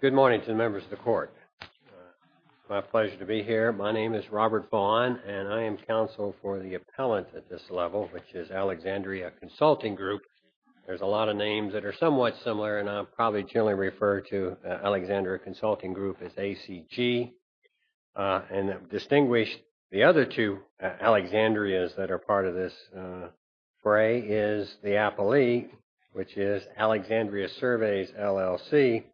Good morning to the members of the court. My pleasure to be here. My name is Robert Vaughn, and I am counsel for the appellant at this level, which is Alexandria Consulting Group. There's a lot of names that are somewhat similar, and I'll probably generally refer to Alexandria Consulting Group as ACG. And distinguish the other two Alexandria's that are part of this fray is the appellee, which is Alexandria Surveys LLC,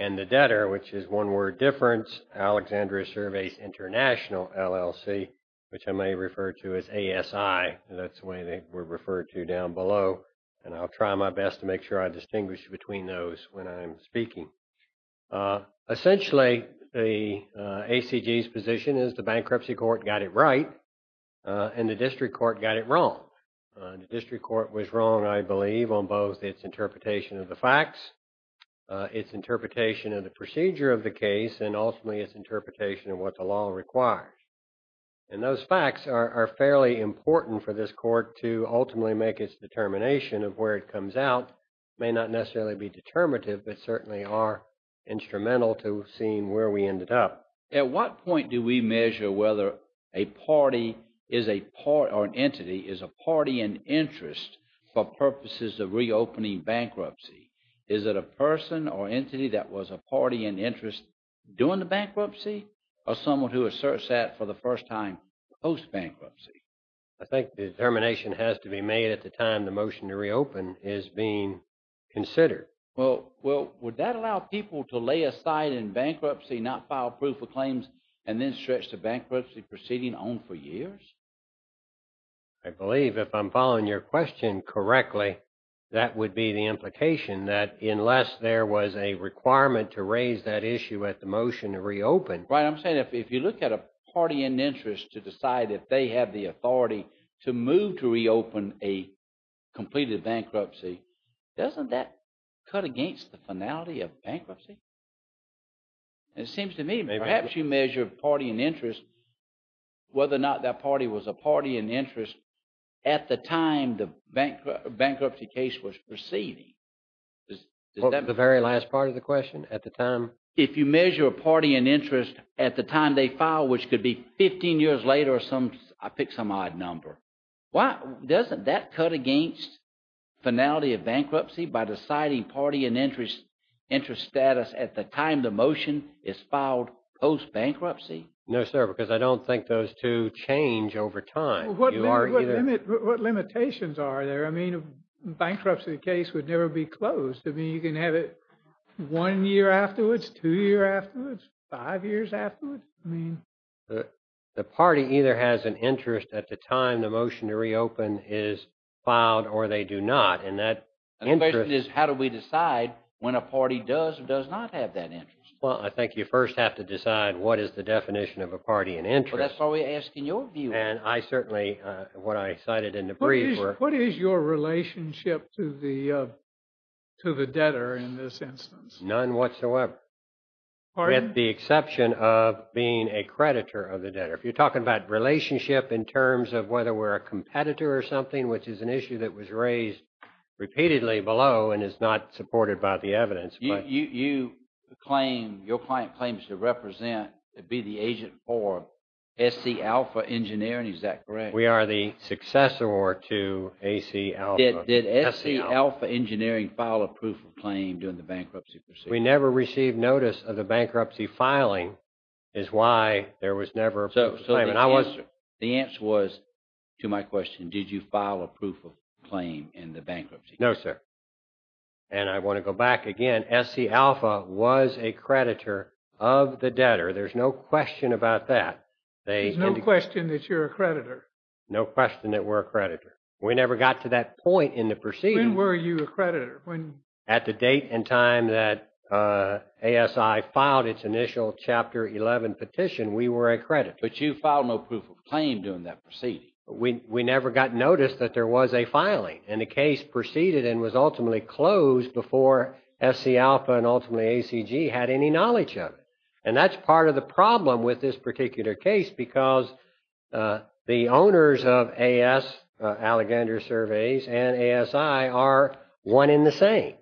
and the debtor, which is one word difference, Alexandria Surveys International LLC, which I may refer to as ASI. That's the way they were referred to down below, and I'll try my best to make sure I distinguish between those when I'm speaking. Essentially, the ACG's position is the bankruptcy court got it right and the district court got it wrong. The district court was wrong, I believe, on both its interpretation of the facts, its interpretation of the procedure of the case, and ultimately its interpretation of what the law requires. And those facts are fairly important for this court to ultimately make its determination of where it comes out. It may not necessarily be determinative, but certainly are instrumental to seeing where we ended up. At what point do we measure whether a party or an entity is a party in interest for purposes of reopening bankruptcy? Is it a person or entity that was a party in interest during the bankruptcy, or someone who asserts that for the first time post-bankruptcy? I think the determination has to be made at the time the motion to reopen is being considered. Well, would that allow people to lay aside in bankruptcy, not file proof of claims, and then stretch the bankruptcy proceeding on for years? I believe if I'm following your question correctly, that would be the implication that unless there was a requirement to raise that issue at the motion to reopen... Right, I'm saying if you look at a party in interest to decide if they have the authority to move to reopen a completed bankruptcy, doesn't that cut against the finality of bankruptcy? It seems to me perhaps you measure a party in interest, whether or not that party was a party in interest at the time the bankruptcy case was proceeding. The very last part of the question, at the time? If you measure a party in interest at the time they filed, which could be 15 years later or some odd number, doesn't that cut against finality of bankruptcy by deciding party in interest status at the time the motion is filed post-bankruptcy? No, sir, because I don't think those two change over time. What limitations are there? I mean, bankruptcy case would never be closed. I mean, you can have it one year afterwards, two years afterwards, five years afterwards. The party either has an interest at the time the motion to reopen is filed or they do not. And the question is, how do we decide when a party does or does not have that interest? Well, I think you first have to decide what is the definition of a party in interest. That's why we're asking your view. And I certainly, what I cited in the brief... What is your relationship to the debtor in this instance? None whatsoever. Pardon? With the exception of being a creditor of the debtor. If you're talking about relationship in terms of whether we're a competitor or something, which is an issue that was raised repeatedly below and is not supported by the evidence. You claim, your client claims to represent, to be the agent for SC Alpha Engineering. Is that correct? We are the successor to AC Alpha. Did SC Alpha Engineering file a proof of claim during the bankruptcy proceedings? We never received notice of the bankruptcy filing is why there was never... So the answer was to my question, did you file a proof of claim in the bankruptcy? No, sir. And I want to go back again. SC Alpha was a creditor of the debtor. There's no question about that. There's no question that you're a creditor. No question that we're a creditor. When were you a creditor? At the date and time that ASI filed its initial Chapter 11 petition, we were a creditor. But you filed no proof of claim during that proceeding. We never got notice that there was a filing. And the case proceeded and was ultimately closed before SC Alpha and ultimately ACG had any knowledge of it. And that's part of the problem with this particular case, because the owners of AS, Allegander Surveys, and ASI are one in the same.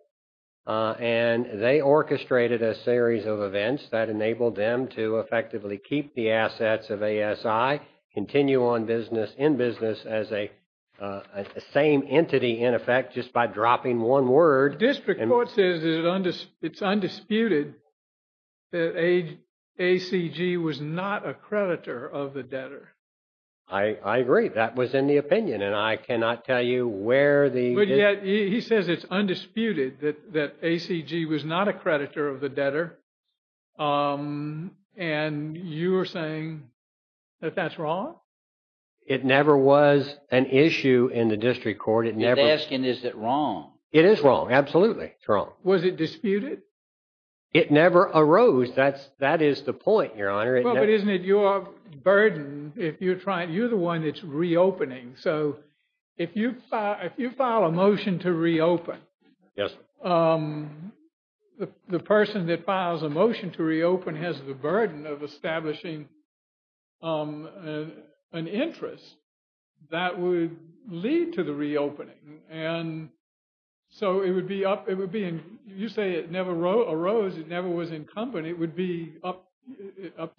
And they orchestrated a series of events that enabled them to effectively keep the assets of ASI, continue on business, in business as a same entity, in effect, just by dropping one word. The district court says it's undisputed that ACG was not a creditor of the debtor. I agree. That was in the opinion. And I cannot tell you where the... But yet, he says it's undisputed that ACG was not a creditor of the debtor. And you are saying that that's wrong? It never was an issue in the district court. It never... They're asking, is it wrong? It is wrong. Absolutely. It's wrong. Was it disputed? It never arose. That is the point, Your Honor. Well, but isn't it your burden if you're trying... You're the one that's reopening. So if you file a motion to reopen, the person that files a motion to reopen has the burden of establishing an interest that would lead to the reopening. And so it would be up... You say it never arose. It never was in company. It would be up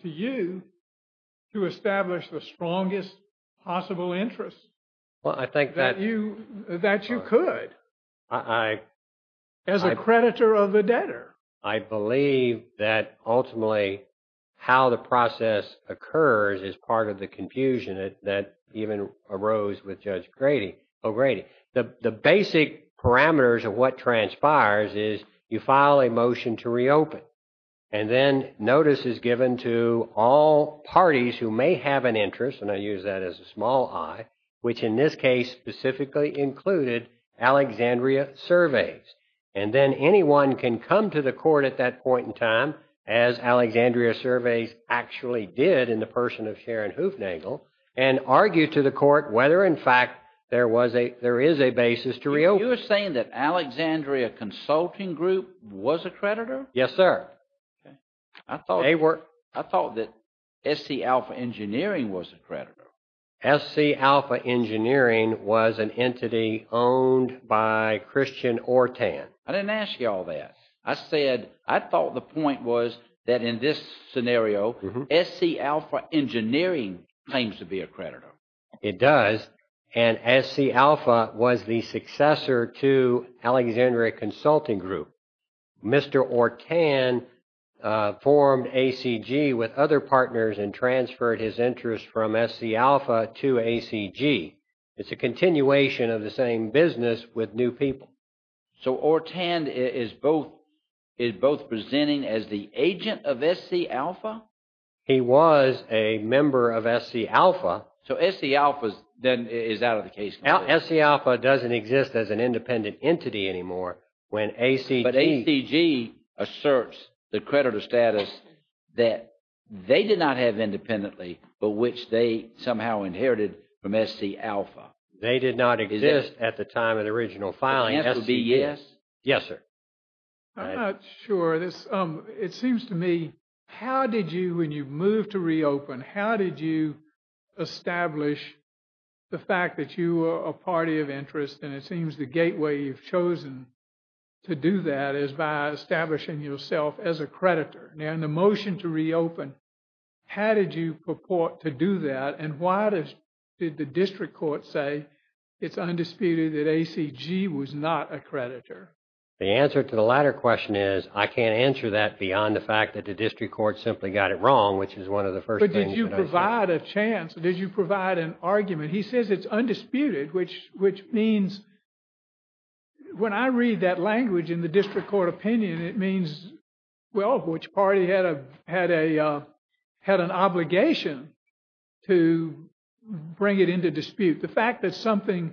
to you to establish the strongest possible interest that you could as a creditor of the debtor. I believe that ultimately how the process occurs is part of the confusion that even arose with Judge Grady. The basic parameters of what transpires is you file a motion to reopen. And then notice is given to all parties who may have an interest. And I use that as a small I, which in this case specifically included Alexandria Surveys. And then anyone can come to the court at that point in time, as Alexandria Surveys actually did in the person of Sharon Hoofnagle, and argue to the court whether in fact there is a basis to reopen. You were saying that Alexandria Consulting Group was a creditor? Yes, sir. I thought that SC Alpha Engineering was a creditor. SC Alpha Engineering was an entity owned by Christian Ortan. I didn't ask you all that. I said I thought the point was that in this scenario, SC Alpha Engineering claims to be a creditor. It does. And SC Alpha was the successor to Alexandria Consulting Group. Mr. Ortan formed ACG with other partners and transferred his interest from SC Alpha to ACG. It's a continuation of the same business with new people. So Ortan is both presenting as the agent of SC Alpha? He was a member of SC Alpha. So SC Alpha is out of the case. SC Alpha doesn't exist as an independent entity anymore when ACG... But ACG asserts the creditor status that they did not have independently, but which they somehow inherited from SC Alpha. They did not exist at the time of the original filing. The answer would be yes? Yes, sir. Sure. It seems to me, how did you, when you moved to reopen, how did you establish the fact that you were a party of interest? And it seems the gateway you've chosen to do that is by establishing yourself as a creditor. And the motion to reopen, how did you purport to do that? And why did the district court say it's undisputed that ACG was not a creditor? The answer to the latter question is I can't answer that beyond the fact that the district court simply got it wrong, which is one of the first things. But did you provide a chance? Did you provide an argument? He says it's undisputed, which means when I read that language in the district court opinion, it means, well, which party had an obligation to bring it into dispute. The fact that something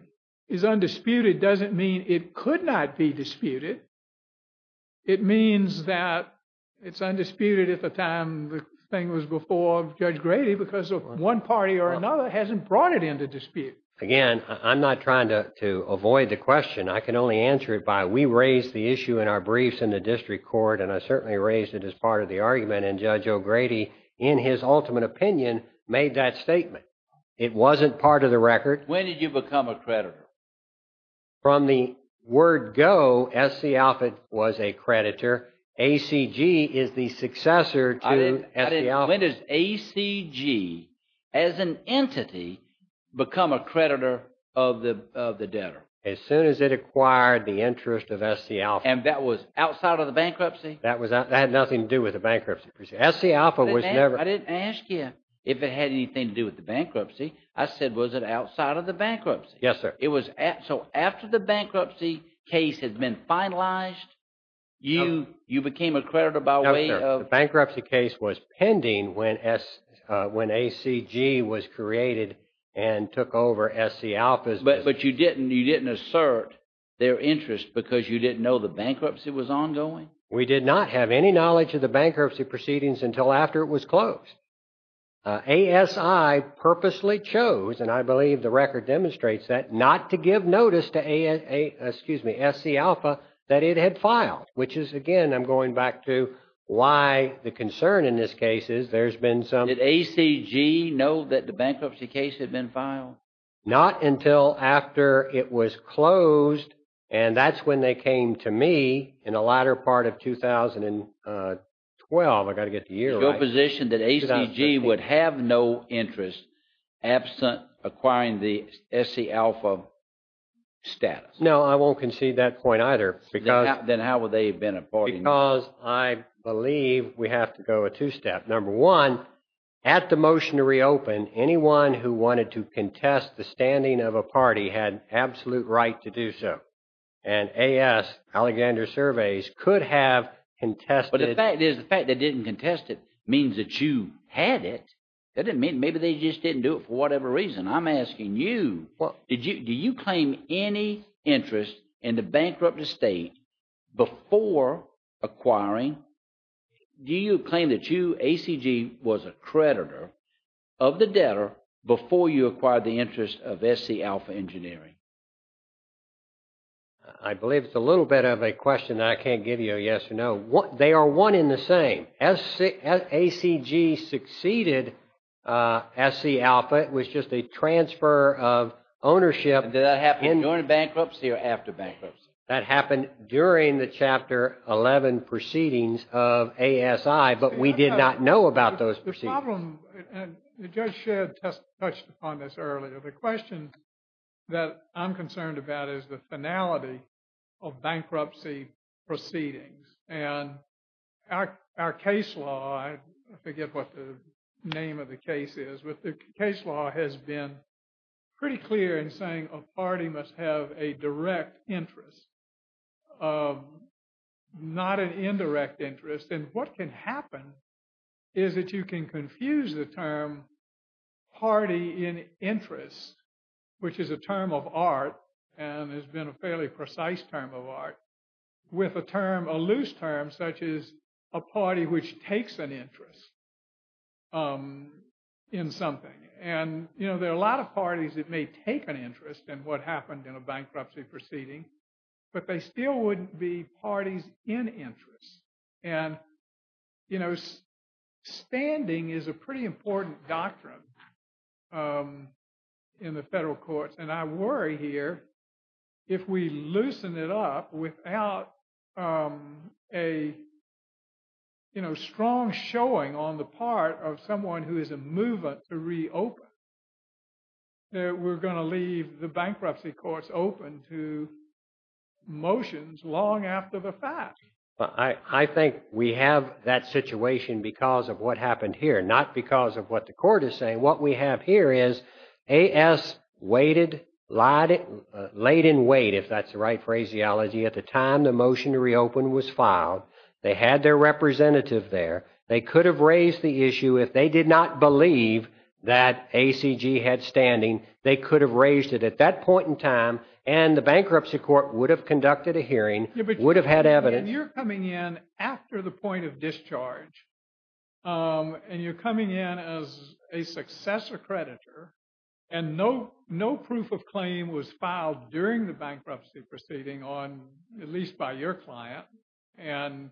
is undisputed doesn't mean it could not be disputed. It means that it's undisputed at the time the thing was before Judge Grady, because one party or another hasn't brought it into dispute. Again, I'm not trying to avoid the question. I can only answer it by we raised the issue in our briefs in the district court, and I certainly raised it as part of the argument. And Judge O'Grady, in his ultimate opinion, made that statement. It wasn't part of the record. When did you become a creditor? From the word go, S.C. Alford was a creditor. ACG is the successor to S.C. Alford. When does ACG, as an entity, become a creditor of the debtor? As soon as it acquired the interest of S.C. Alford. And that was outside of the bankruptcy? That had nothing to do with the bankruptcy. S.C. Alford was never- I didn't ask you if it had anything to do with the bankruptcy. I said, was it outside of the bankruptcy? Yes, sir. So after the bankruptcy case had been finalized, you became a creditor by way of- No, sir. The bankruptcy case was pending when ACG was created and took over S.C. Alford's business. But you didn't assert their interest because you didn't know the bankruptcy was ongoing? We did not have any knowledge of the bankruptcy proceedings until after it was closed. ASI purposely chose, and I believe the record demonstrates that, not to give notice to S.C. Alford that it had filed. Which is, again, I'm going back to why the concern in this case is there's been some- Did ACG know that the bankruptcy case had been filed? Not until after it was closed, and that's when they came to me in the latter part of 2012. I've got to get the year right. Is your position that ACG would have no interest absent acquiring the S.C. Alford status? No, I won't concede that point either because- Then how would they have been affording- Because I believe we have to go a two-step. Number one, at the motion to reopen, anyone who wanted to contest the standing of a party had absolute right to do so. And AS, Alexander Surveys, could have contested- But the fact is, the fact that they didn't contest it means that you had it. Maybe they just didn't do it for whatever reason. I'm asking you. Do you claim any interest in the bankrupt estate before acquiring- Do you claim that you, ACG, was a creditor of the debtor before you acquired the interest of S.C. Alford Engineering? I believe it's a little bit of a question that I can't give you a yes or no. They are one in the same. As ACG succeeded S.C. Alford, it was just a transfer of ownership- Did that happen during bankruptcy or after bankruptcy? That happened during the Chapter 11 proceedings of ASI, but we did not know about those proceedings. The problem, and the judge touched upon this earlier, the question that I'm concerned about is the finality of bankruptcy proceedings. And our case law- I forget what the name of the case is- but the case law has been pretty clear in saying a party must have a direct interest, not an indirect interest. And what can happen is that you can confuse the term party in interest, which is a term of art, and has been a fairly precise term of art, with a term, a loose term, such as a party which takes an interest in something. And there are a lot of parties that may take an interest in what happened in a bankruptcy proceeding, but they still wouldn't be parties in interest. And standing is a pretty important doctrine in the federal courts. And I worry here, if we loosen it up without a strong showing on the part of someone who is a movement to reopen, that we're going to leave the bankruptcy courts open to motions long after the fact. I think we have that situation because of what happened here, not because of what the court is saying. What we have here is AS waited, laid in wait, if that's the right phraseology, at the time the motion to reopen was filed. They had their representative there. They could have raised the issue if they did not believe that ACG had standing. They could have raised it at that point in time, and the bankruptcy court would have conducted a hearing, would have had evidence. And you're coming in after the point of discharge, and you're coming in as a successor creditor, and no proof of claim was filed during the bankruptcy proceeding on, at least by your client. And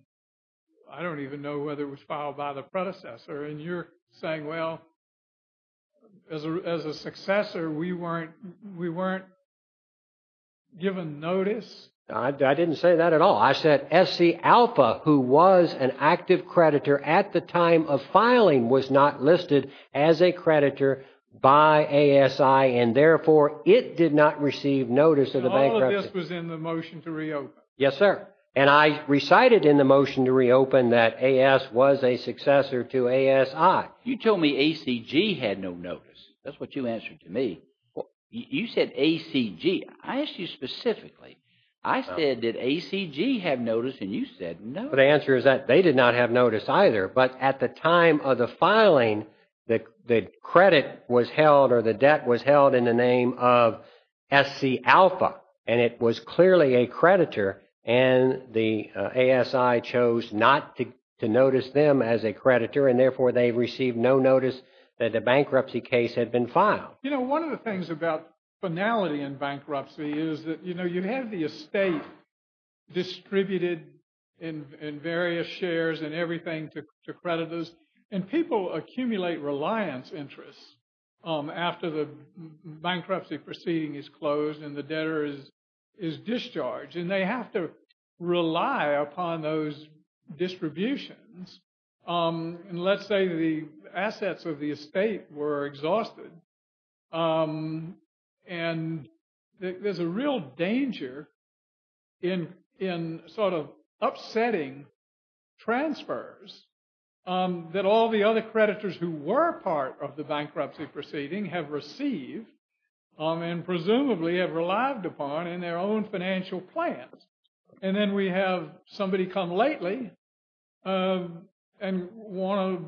I don't even know whether it was filed by the predecessor. And you're saying, well, as a successor, we weren't given notice? I didn't say that at all. I said SC Alpha, who was an active creditor at the time of filing, was not listed as a creditor by ASI, and therefore it did not receive notice of the bankruptcy. All of this was in the motion to reopen. Yes, sir. And I recited in the motion to reopen that AS was a successor to ASI. You told me ACG had no notice. That's what you answered to me. You said ACG. I asked you specifically. I said, did ACG have notice, and you said no. The answer is that they did not have notice either. But at the time of the filing, the credit was held or the debt was held in the name of SC Alpha, and it was clearly a creditor, and the ASI chose not to notice them as a creditor, and therefore they received no notice that the bankruptcy case had been filed. You know, one of the things about finality in bankruptcy is that, you know, you have the estate distributed in various shares and everything to creditors, and people accumulate reliance interests after the bankruptcy proceeding is closed and the debtor is discharged, and they have to rely upon those distributions. And let's say the assets of the estate were exhausted, and there's a real danger in sort of upsetting transfers that all the other creditors who were part of the bankruptcy proceeding have received and presumably have relied upon in their own financial plans. And then we have somebody come lately and want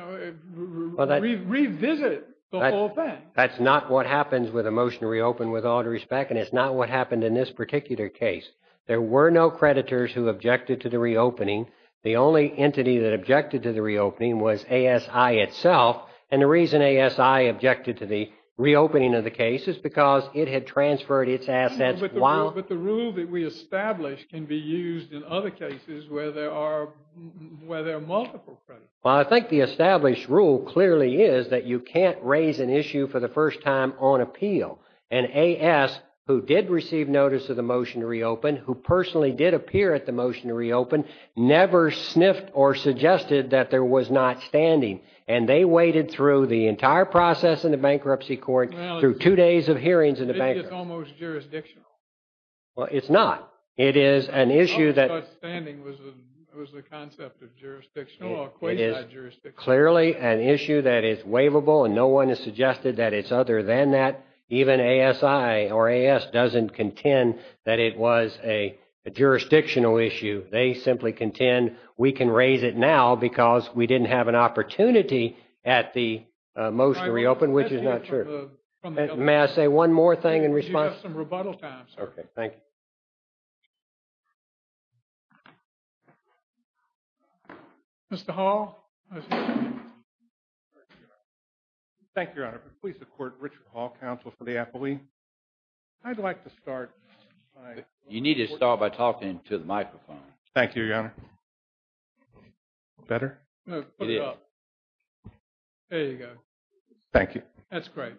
to revisit the whole thing. That's not what happens with a motion to reopen with all due respect, and it's not what happened in this particular case. There were no creditors who objected to the reopening. The only entity that objected to the reopening was ASI itself, and the reason ASI objected to the reopening of the case is because it had transferred its assets while the rule that we established can be used in other cases where there are multiple creditors. Well, I think the established rule clearly is that you can't raise an issue for the first time on appeal, and AS, who did receive notice of the motion to reopen, who personally did appear at the motion to reopen, never sniffed or suggested that there was not standing, and they waited through the entire process in the bankruptcy court through two days of hearings in the bankruptcy court. It's almost jurisdictional. Well, it's not. It is an issue that. Standing was the concept of jurisdictional. It is clearly an issue that is waivable, and no one has suggested that it's other than that. Even ASI or AS doesn't contend that it was a jurisdictional issue. They simply contend we can raise it now because we didn't have an opportunity at the motion to reopen, which is not true. May I say one more thing in response? You have some rebuttal time, sir. Okay, thank you. Mr. Hall. Thank you, Your Honor. Please support Richard Hall, counsel for the affilee. I'd like to start. You need to start by talking to the microphone. Thank you, Your Honor. Better? It is. There you go. Thank you. That's great.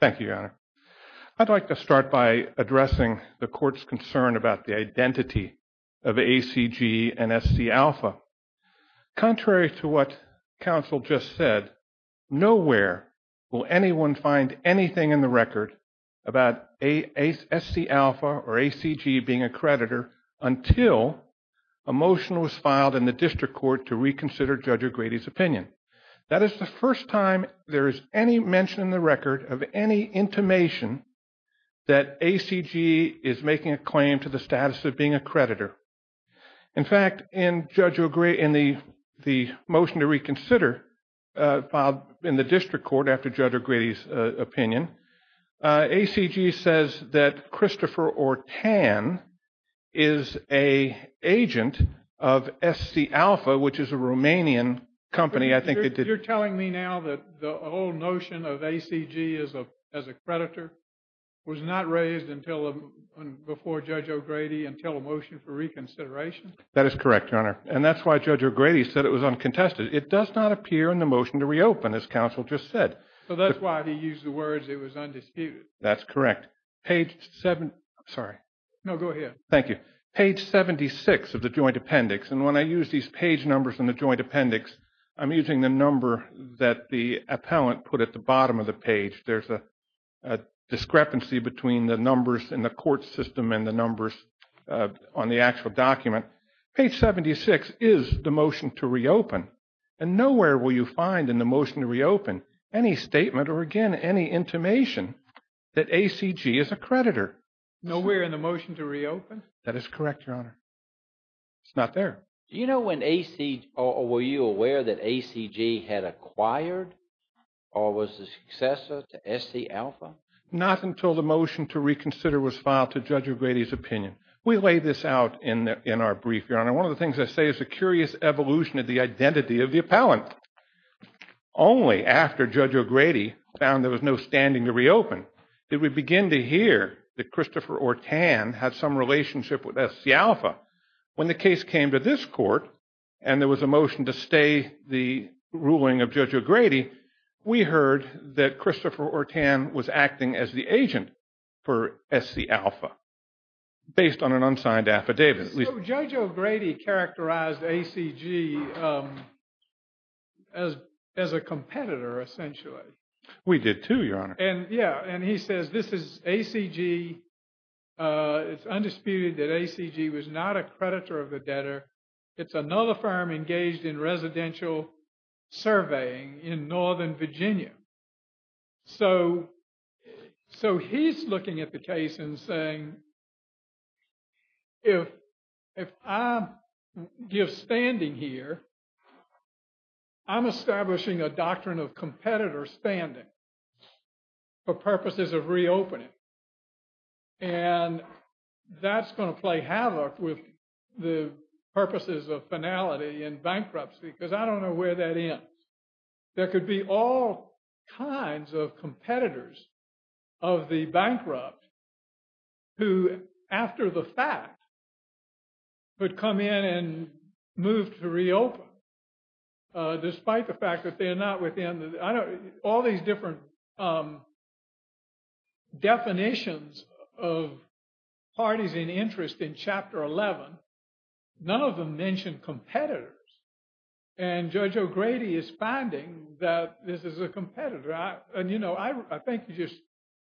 Thank you, Your Honor. I'd like to start by addressing the court's concern about the identity of ACG and SC Alpha. Contrary to what counsel just said, nowhere will anyone find anything in the record about a SC Alpha or ACG being a creditor until a motion was filed in the district court to reconsider Judge O'Grady's opinion. That is the first time there is any mention in the record of any intimation that ACG is making a claim to the status of being a creditor. In fact, in the motion to reconsider filed in the district court after Judge O'Grady's opinion, ACG says that Christopher Ortan is an agent of SC Alpha, which is a Romanian company. You're telling me now that the whole notion of ACG as a creditor was not raised before Judge O'Grady until a motion for reconsideration? That is correct, Your Honor. And that's why Judge O'Grady said it was uncontested. It does not appear in the motion to reopen, as counsel just said. So that's why he used the words it was undisputed. That's correct. Page seven. Sorry. No, go ahead. Thank you. Page 76 of the joint appendix. And when I use these page numbers in the joint appendix, I'm using the number that the appellant put at the bottom of the page. There's a discrepancy between the numbers in the court system and the numbers on the actual document. Page 76 is the motion to reopen. And nowhere will you find in the motion to reopen any statement or, again, any intimation that ACG is a creditor. Nowhere in the motion to reopen? That is correct, Your Honor. It's not there. Do you know when ACG or were you aware that ACG had acquired or was the successor to SC Alpha? Not until the motion to reconsider was filed to Judge O'Grady's opinion. We laid this out in our brief, Your Honor. One of the things I say is a curious evolution of the identity of the appellant. Only after Judge O'Grady found there was no standing to reopen did we begin to hear that Christopher Ortan had some relationship with SC Alpha. When the case came to this court and there was a motion to stay the ruling of Judge O'Grady, we heard that Christopher Ortan was acting as the agent for SC Alpha based on an unsigned affidavit. Judge O'Grady characterized ACG as a competitor, essentially. We did, too, Your Honor. Yeah, and he says this is ACG. It's undisputed that ACG was not a creditor of the debtor. It's another firm engaged in residential surveying in northern Virginia. So he's looking at the case and saying, if I give standing here, I'm establishing a doctrine of competitor standing for purposes of reopening. And that's going to play havoc with the purposes of finality and bankruptcy because I don't know where that ends. There could be all kinds of competitors of the bankrupt who, after the fact, would come in and move to reopen, despite the fact that they're not within. I know all these different definitions of parties in interest in Chapter 11. None of them mention competitors. And Judge O'Grady is finding that this is a competitor. And I think you just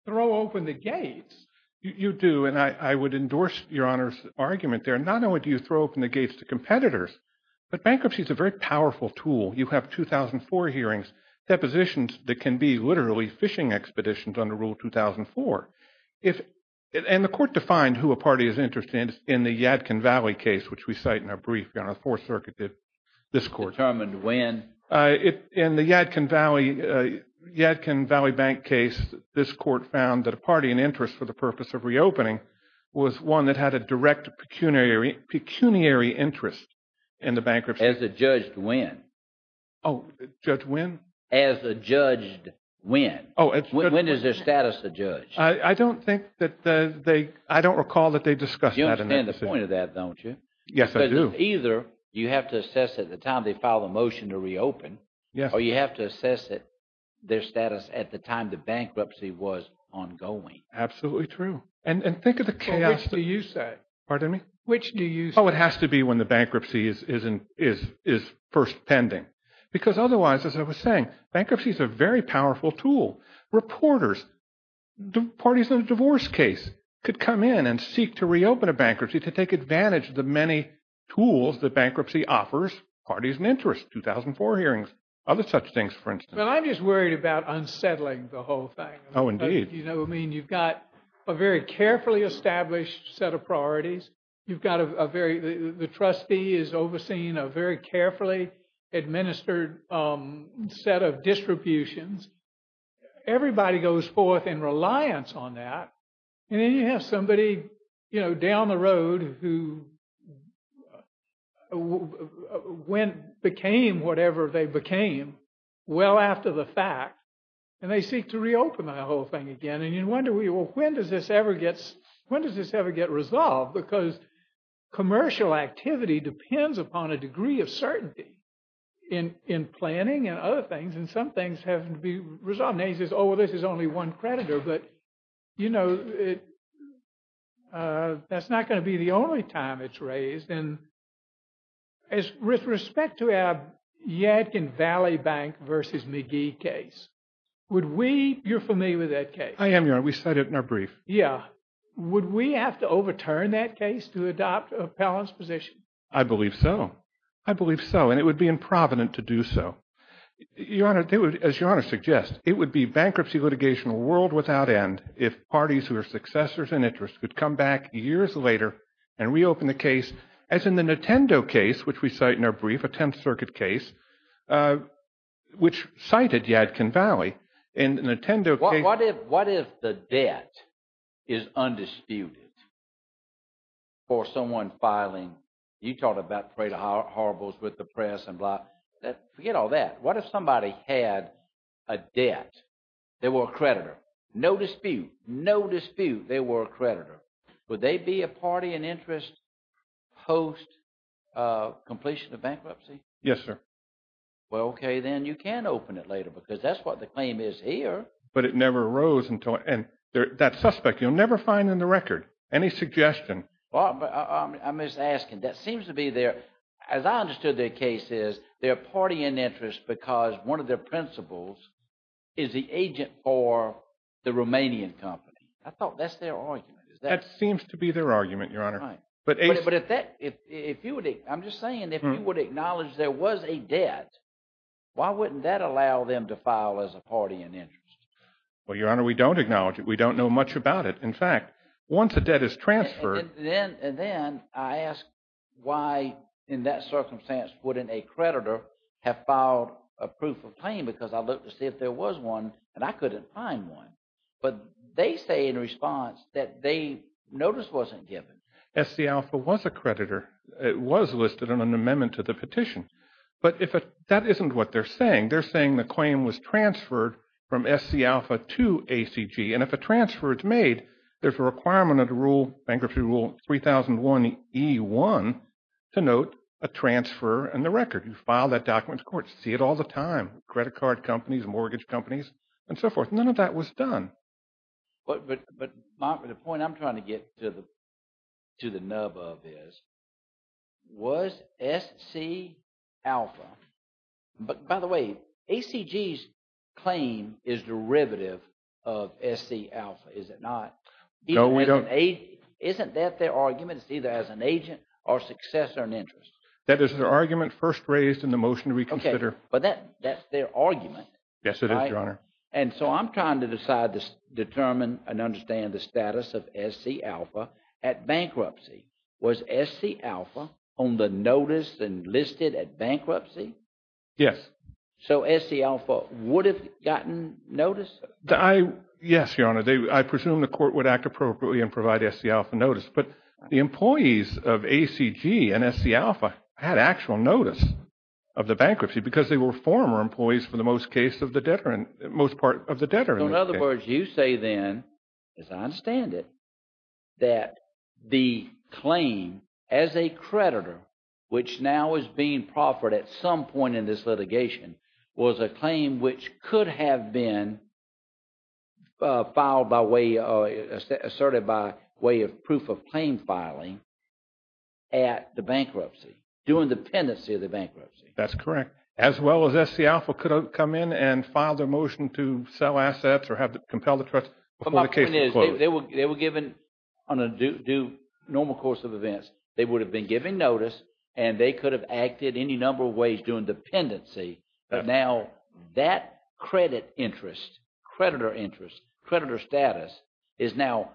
throw open the gates. You do, and I would endorse Your Honor's argument there. Not only do you throw open the gates to competitors, but bankruptcy is a very powerful tool. You have 2004 hearings, depositions that can be literally fishing expeditions under Rule 2004. And the court defined who a party is interested in the Yadkin Valley case, which we cite in our brief. Your Honor, the Fourth Circuit did, this court. Determined when? In the Yadkin Valley bank case, this court found that a party in interest for the purpose of reopening was one that had a direct pecuniary interest in the bankruptcy. As a judge, when? Oh, Judge, when? As a judge, when? When is their status a judge? I don't think that they, I don't recall that they discussed that. You understand the point of that, don't you? Yes, I do. Because either you have to assess at the time they filed a motion to reopen, or you have to assess their status at the time the bankruptcy was ongoing. Absolutely true. And think of the chaos. Which do you say? Pardon me? Which do you say? Oh, it has to be when the bankruptcy is first pending. Because otherwise, as I was saying, bankruptcy is a very powerful tool. Reporters, parties in a divorce case could come in and seek to reopen a bankruptcy to take advantage of the many tools that bankruptcy offers parties in interest. 2004 hearings, other such things, for instance. Well, I'm just worried about unsettling the whole thing. Oh, indeed. You know, I mean, you've got a very carefully established set of priorities. You've got a very, the trustee is overseeing a very carefully administered set of distributions. Everybody goes forth in reliance on that. And then you have somebody, you know, down the road who went, became whatever they became well after the fact. And they seek to reopen that whole thing again. And you wonder, well, when does this ever get, when does this ever get resolved? Because commercial activity depends upon a degree of certainty in planning and other things. And some things have to be resolved. Well, you know, I mean, I'm not going to go on and say, oh, well, this is only one creditor. But, you know, that's not going to be the only time it's raised. And with respect to our Yadkin Valley Bank versus McGee case, would we, you're familiar with that case. I am, Your Honor. We said it in our brief. Yeah. Would we have to overturn that case to adopt an appellant's position? I believe so. I believe so. And it would be improvident to do so. Your Honor, as Your Honor suggests, it would be bankruptcy litigation world without end if parties who are successors in interest could come back years later and reopen the case, as in the Nintendo case, which we cite in our brief, a Tenth Circuit case, which cited Yadkin Valley. What if the debt is undisputed for someone filing? You talked about parade of horribles with the press and blah. Forget all that. What if somebody had a debt? They were a creditor. No dispute. No dispute. They were a creditor. Would they be a party in interest post-completion of bankruptcy? Yes, sir. Well, okay, then you can open it later because that's what the claim is here. But it never arose until – and that suspect you'll never find in the record. Any suggestion? I'm just asking. That seems to be their – as I understood their case is they're a party in interest because one of their principals is the agent for the Romanian company. I thought that's their argument. That seems to be their argument, Your Honor. But if you would – I'm just saying if you would acknowledge there was a debt, why wouldn't that allow them to file as a party in interest? Well, Your Honor, we don't acknowledge it. We don't know much about it. In fact, once a debt is transferred – And then I ask why in that circumstance wouldn't a creditor have filed a proof of claim because I looked to see if there was one, and I couldn't find one. But they say in response that they – notice wasn't given. SCAlpha was a creditor. It was listed in an amendment to the petition. But that isn't what they're saying. They're saying the claim was transferred from SCAlpha to ACG. And if a transfer is made, there's a requirement under bankruptcy rule 3001E1 to note a transfer in the record. You file that document. Of course, you see it all the time, credit card companies, mortgage companies, and so forth. None of that was done. But the point I'm trying to get to the nub of is, was SCAlpha – but by the way, ACG's claim is derivative of SCAlpha, is it not? No, we don't – Isn't that their argument? It's either as an agent or successor in interest. That is their argument first raised in the motion to reconsider. Okay, but that's their argument. Yes, it is, Your Honor. And so I'm trying to decide to determine and understand the status of SCAlpha at bankruptcy. Was SCAlpha on the notice and listed at bankruptcy? Yes. So SCAlpha would have gotten notice? Yes, Your Honor. I presume the court would act appropriately and provide SCAlpha notice. But the employees of ACG and SCAlpha had actual notice of the bankruptcy because they were former employees for the most part of the debtor. So in other words, you say then, as I understand it, that the claim as a creditor, which now is being proffered at some point in this litigation, was a claim which could have been filed by way – asserted by way of proof of claim filing at the bankruptcy, during the pendency of the bankruptcy. That's correct. As well as SCAlpha could have come in and filed a motion to sell assets or have to compel the trust before the case was closed. But my point is they were given on a normal course of events. They would have been given notice and they could have acted any number of ways during the pendency. But now that credit interest, creditor interest, creditor status is now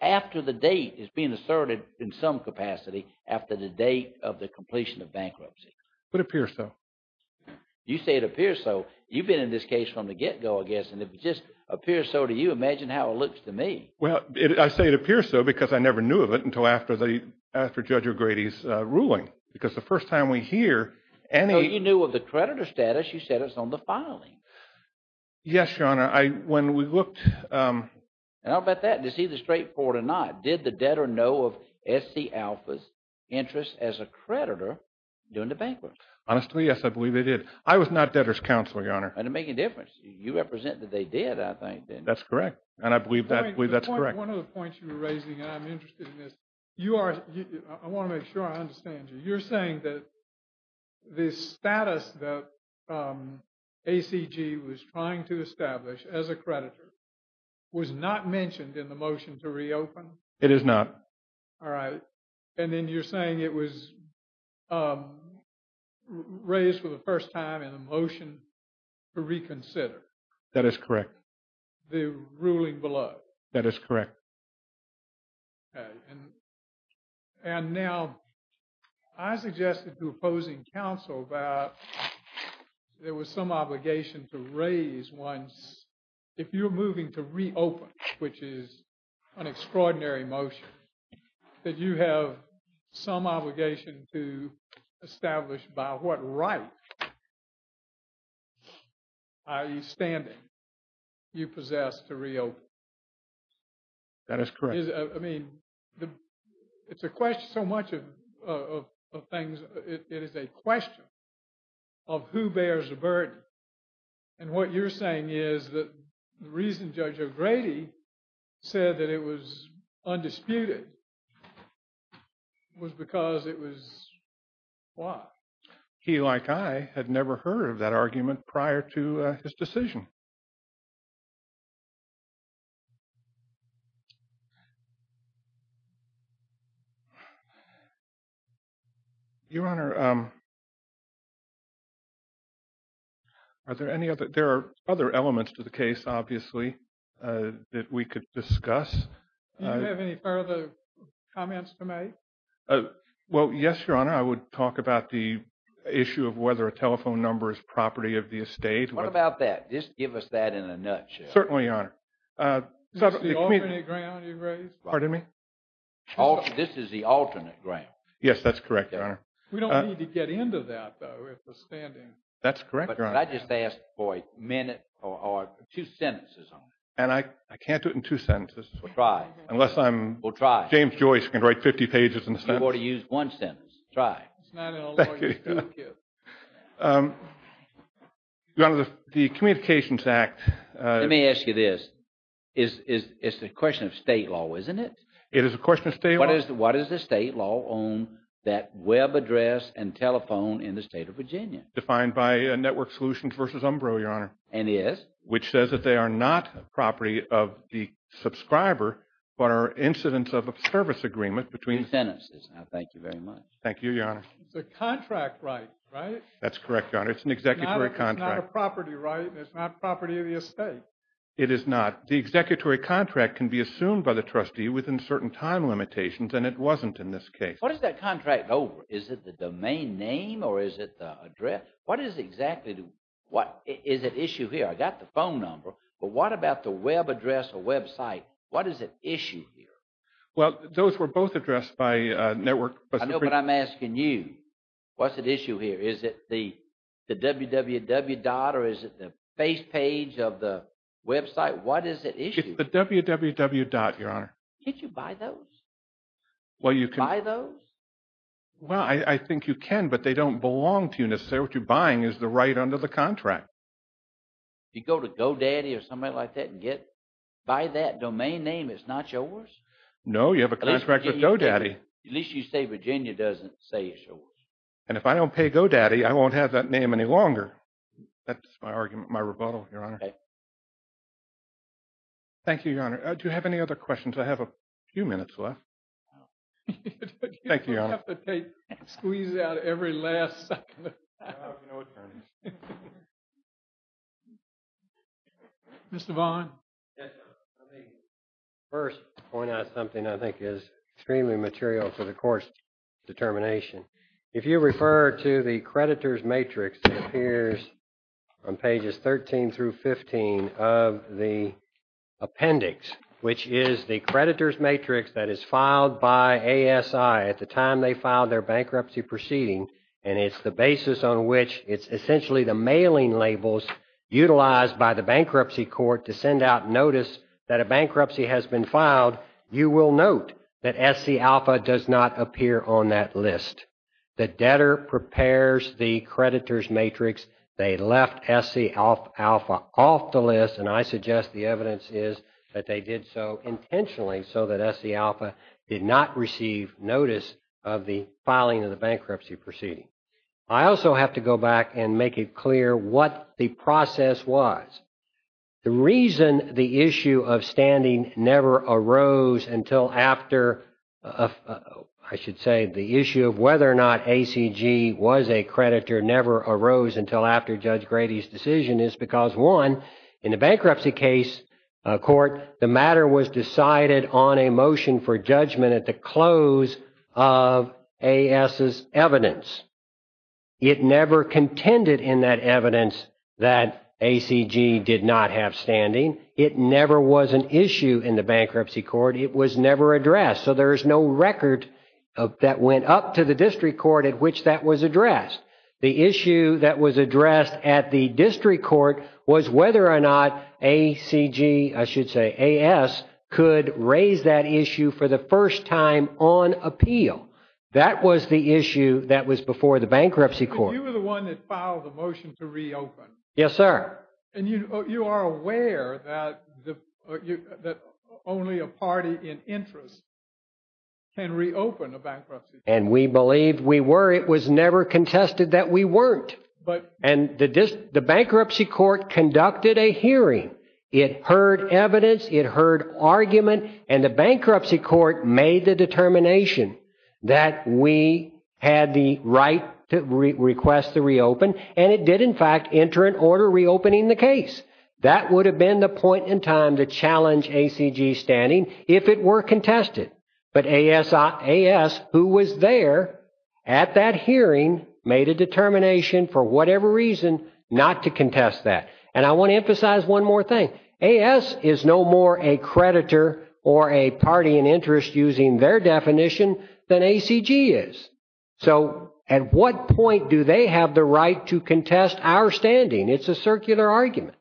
after the date is being asserted in some capacity after the date of the completion of bankruptcy. It would appear so. You say it appears so. You've been in this case from the get-go, I guess, and if it just appears so to you, imagine how it looks to me. Well, I say it appears so because I never knew of it until after Judge O'Grady's ruling. Because the first time we hear any – So you knew of the creditor status. You said it's on the filing. Yes, Your Honor. When we looked – How about that? It's either straightforward or not. Did the debtor know of SCAlpha's interest as a creditor during the bankruptcy? Honestly, yes, I believe they did. I was not debtor's counselor, Your Honor. And it made a difference. You represent that they did, I think. That's correct. And I believe that's correct. One of the points you were raising, and I'm interested in this, you are – I want to make sure I understand you. You're saying that the status that ACG was trying to establish as a creditor was not mentioned in the motion to reopen? It is not. All right. And then you're saying it was raised for the first time in the motion to reconsider? That is correct. The ruling below? That is correct. Okay. And now, I suggested to opposing counsel that there was some obligation to raise once – if you're moving to reopen, which is an extraordinary motion, that you have some obligation to establish by what right, i.e. standing, you possess to reopen. That is correct. I mean, it's a question – so much of things – it is a question of who bears the burden. And what you're saying is that the reason Judge O'Grady said that it was undisputed was because it was – why? He, like I, had never heard of that argument prior to his decision. Your Honor, are there any other – there are other elements to the case, obviously, that we could discuss. Do you have any further comments to make? Well, yes, Your Honor. I would talk about the issue of whether a telephone number is property of the estate. What about that? Just give us that in a nutshell. Certainly, Your Honor. This is the alternate ground you raised? Pardon me? This is the alternate ground. Yes, that's correct, Your Honor. We don't need to get into that, though, with the standing. That's correct, Your Honor. But I just asked for a minute or two sentences on it. And I can't do it in two sentences. Well, try. Unless I'm – Well, try. James Joyce can write 50 pages in a sentence. You ought to use one sentence. Try. Thank you. Your Honor, the Communications Act – Let me ask you this. It's a question of state law, isn't it? It is a question of state law. What is the state law on that web address and telephone in the state of Virginia? Defined by Network Solutions v. Umbro, Your Honor. And is? Which says that they are not property of the subscriber, but are incidents of a service agreement between – Two sentences. I thank you very much. Thank you, Your Honor. It's a contract right, right? That's correct, Your Honor. It's an executory contract. It's not a property right, and it's not property of the estate. It is not. The executory contract can be assumed by the trustee within certain time limitations, and it wasn't in this case. What is that contract over? Is it the domain name, or is it the address? What is exactly the – What – Is at issue here? I got the phone number, but what about the web address or website? What is at issue here? Well, those were both addressed by Network – I know, but I'm asking you, what's at issue here? Is it the www dot, or is it the face page of the website? What is at issue? It's the www dot, Your Honor. Can't you buy those? Well, you can – Buy those? Well, I think you can, but they don't belong to you necessarily. What you're buying is the right under the contract. You go to GoDaddy or somebody like that and get – buy that domain name. It's not yours? No, you have a contract with GoDaddy. At least you say Virginia doesn't say it's yours. And if I don't pay GoDaddy, I won't have that name any longer. That's my argument, my rebuttal, Your Honor. Okay. Thank you, Your Honor. Do you have any other questions? I have a few minutes left. Thank you, Your Honor. You don't have to take – squeeze out every last second. Mr. Vaughan. Yes, sir. Let me first point out something I think is extremely material for the court's determination. If you refer to the creditor's matrix, it appears on pages 13 through 15 of the appendix, which is the creditor's matrix that is filed by ASI at the time they filed their bankruptcy proceeding. And it's the basis on which it's essentially the mailing labels utilized by the bankruptcy court to send out notice that a bankruptcy has been filed. You will note that SCAlpha does not appear on that list. The debtor prepares the creditor's matrix. They left SCAlpha off the list, and I suggest the evidence is that they did so intentionally so that SCAlpha did not receive notice of the filing of the bankruptcy proceeding. I also have to go back and make it clear what the process was. The reason the issue of standing never arose until after – I should say, the issue of whether or not ACG was a creditor never arose until after Judge Grady's decision is because, one, in the bankruptcy case court, the matter was decided on a motion for judgment at the close of AS's evidence. It never contended in that evidence that ACG did not have standing. It never was an issue in the bankruptcy court. It was never addressed. So there is no record that went up to the district court at which that was addressed. The issue that was addressed at the district court was whether or not ACG – I should say, AS – could raise that issue for the first time on appeal. That was the issue that was before the bankruptcy court. But you were the one that filed the motion to reopen. Yes, sir. And you are aware that only a party in interest can reopen a bankruptcy. And we believed we were. It was never contested that we weren't. And the bankruptcy court conducted a hearing. It heard evidence. It heard argument. And the bankruptcy court made the determination that we had the right to request the reopen. And it did, in fact, enter an order reopening the case. That would have been the point in time to challenge ACG's standing if it were contested. But AS, who was there at that hearing, made a determination for whatever reason not to contest that. And I want to emphasize one more thing. AS is no more a creditor or a party in interest, using their definition, than ACG is. So at what point do they have the right to contest our standing? It's a circular argument.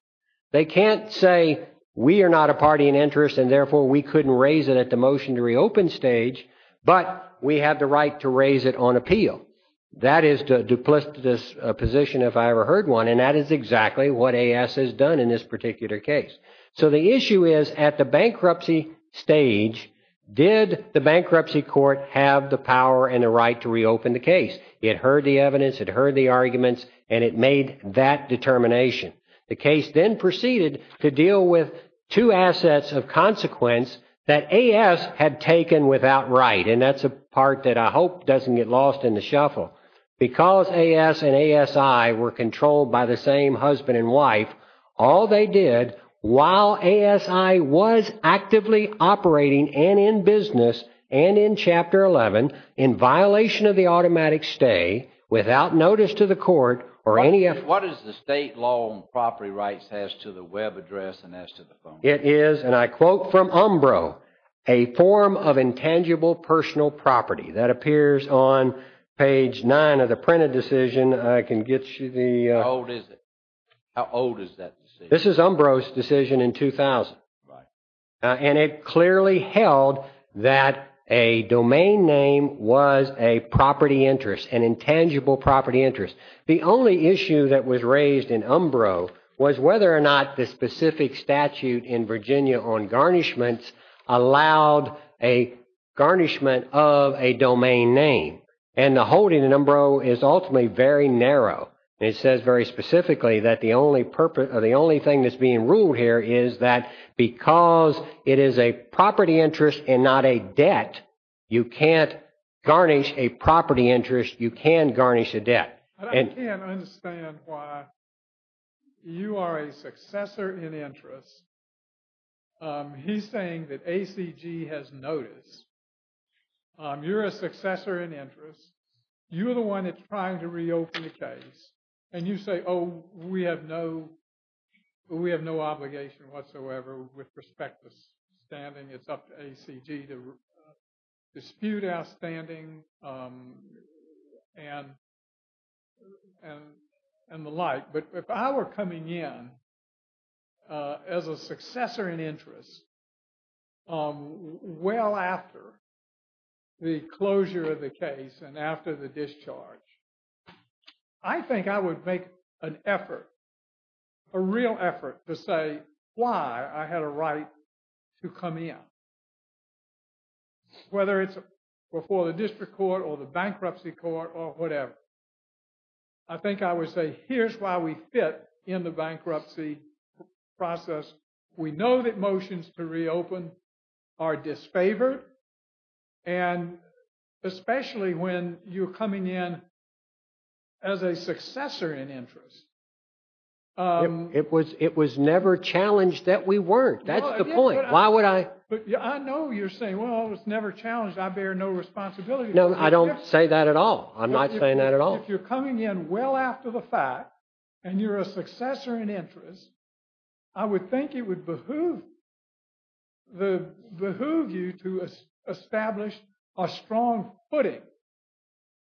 They can't say we are not a party in interest and, therefore, we couldn't raise it at the motion to reopen stage. But we have the right to raise it on appeal. That is the duplicitous position, if I ever heard one. And that is exactly what AS has done in this particular case. So the issue is, at the bankruptcy stage, did the bankruptcy court have the power and the right to reopen the case? It heard the evidence. It heard the arguments. And it made that determination. The case then proceeded to deal with two assets of consequence that AS had taken without right. And that's a part that I hope doesn't get lost in the shuffle. Because AS and ASI were controlled by the same husband and wife, all they did, while ASI was actively operating, and in business, and in Chapter 11, in violation of the automatic stay, without notice to the court, or any... What is the state law on property rights as to the web address and as to the phone number? It is, and I quote from Umbro, a form of intangible personal property. That appears on page 9 of the printed decision. I can get you the... How old is it? How old is that decision? This is Umbro's decision in 2000. And it clearly held that a domain name was a property interest, an intangible property interest. The only issue that was raised in Umbro was whether or not the specific statute in Virginia on garnishments allowed a garnishment of a domain name. And the holding in Umbro is ultimately very narrow. It says very specifically that the only thing that's being ruled here is that because it is a property interest and not a debt, you can't garnish a property interest, you can garnish a debt. But I can't understand why you are a successor in interest. He's saying that ACG has notice. You're a successor in interest. You're the one that's trying to reopen the case. And you say, oh, we have no obligation whatsoever with respect to standing. And the like. But if I were coming in as a successor in interest, well after the closure of the case and after the discharge, I think I would make an effort, a real effort to say why I had a right to come in. Whether it's before the district court or the bankruptcy court or whatever. I think I would say here's why we fit in the bankruptcy process. We know that motions to reopen are disfavored. And especially when you're coming in as a successor in interest. It was it was never challenged that we weren't. That's the point. Why would I? But I know you're saying, well, it's never challenged. I bear no responsibility. No, I don't say that at all. I'm not saying that at all. If you're coming in well after the fact and you're a successor in interest. I would think it would behoove you to establish a strong footing.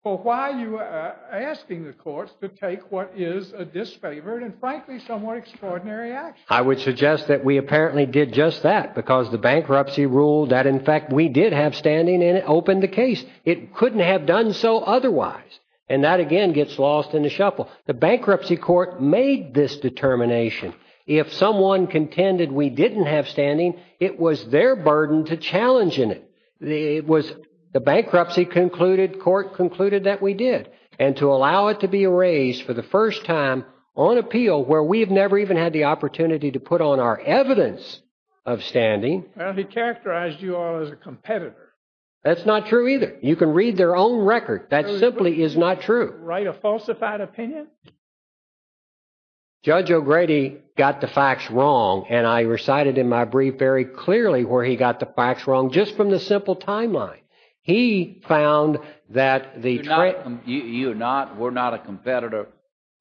Well, why are you asking the courts to take what is a disfavored and frankly, somewhat extraordinary action? I would suggest that we apparently did just that because the bankruptcy ruled that, in fact, we did have standing. And it opened the case. It couldn't have done so otherwise. And that, again, gets lost in the shuffle. The bankruptcy court made this determination. If someone contended we didn't have standing, it was their burden to challenge in it. It was the bankruptcy concluded court concluded that we did. And to allow it to be erased for the first time on appeal where we've never even had the opportunity to put on our evidence of standing. And he characterized you all as a competitor. That's not true either. You can read their own record. That simply is not true. Write a falsified opinion. Judge O'Grady got the facts wrong. And I recited in my brief very clearly where he got the facts wrong just from the simple timeline. He found that the you not we're not a competitor.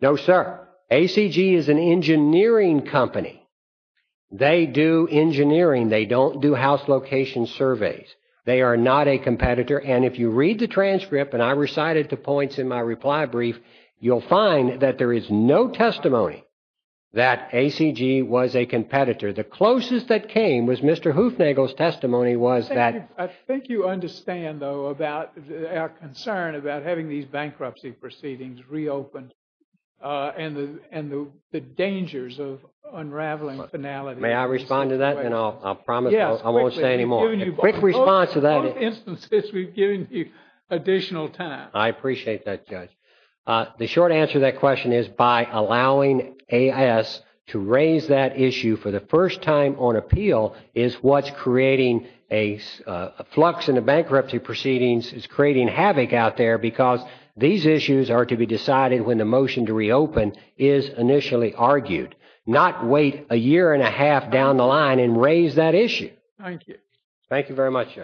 No, sir. A.C.G. is an engineering company. They do engineering. They don't do house location surveys. They are not a competitor. And if you read the transcript and I recited the points in my reply brief, you'll find that there is no testimony that A.C.G. was a competitor. The closest that came was Mr. Hoofnagle's testimony was that. I think you understand, though, about our concern about having these bankruptcy proceedings reopened and the and the dangers of unraveling finality. May I respond to that? And I'll promise I won't say any more. Quick response to that instance is we've given you additional time. I appreciate that. The short answer to that question is by allowing A.S. to raise that issue for the first time on appeal is what's creating a flux in the bankruptcy proceedings. It's creating havoc out there because these issues are to be decided when the motion to reopen is initially argued. Not wait a year and a half down the line and raise that issue. Thank you very much.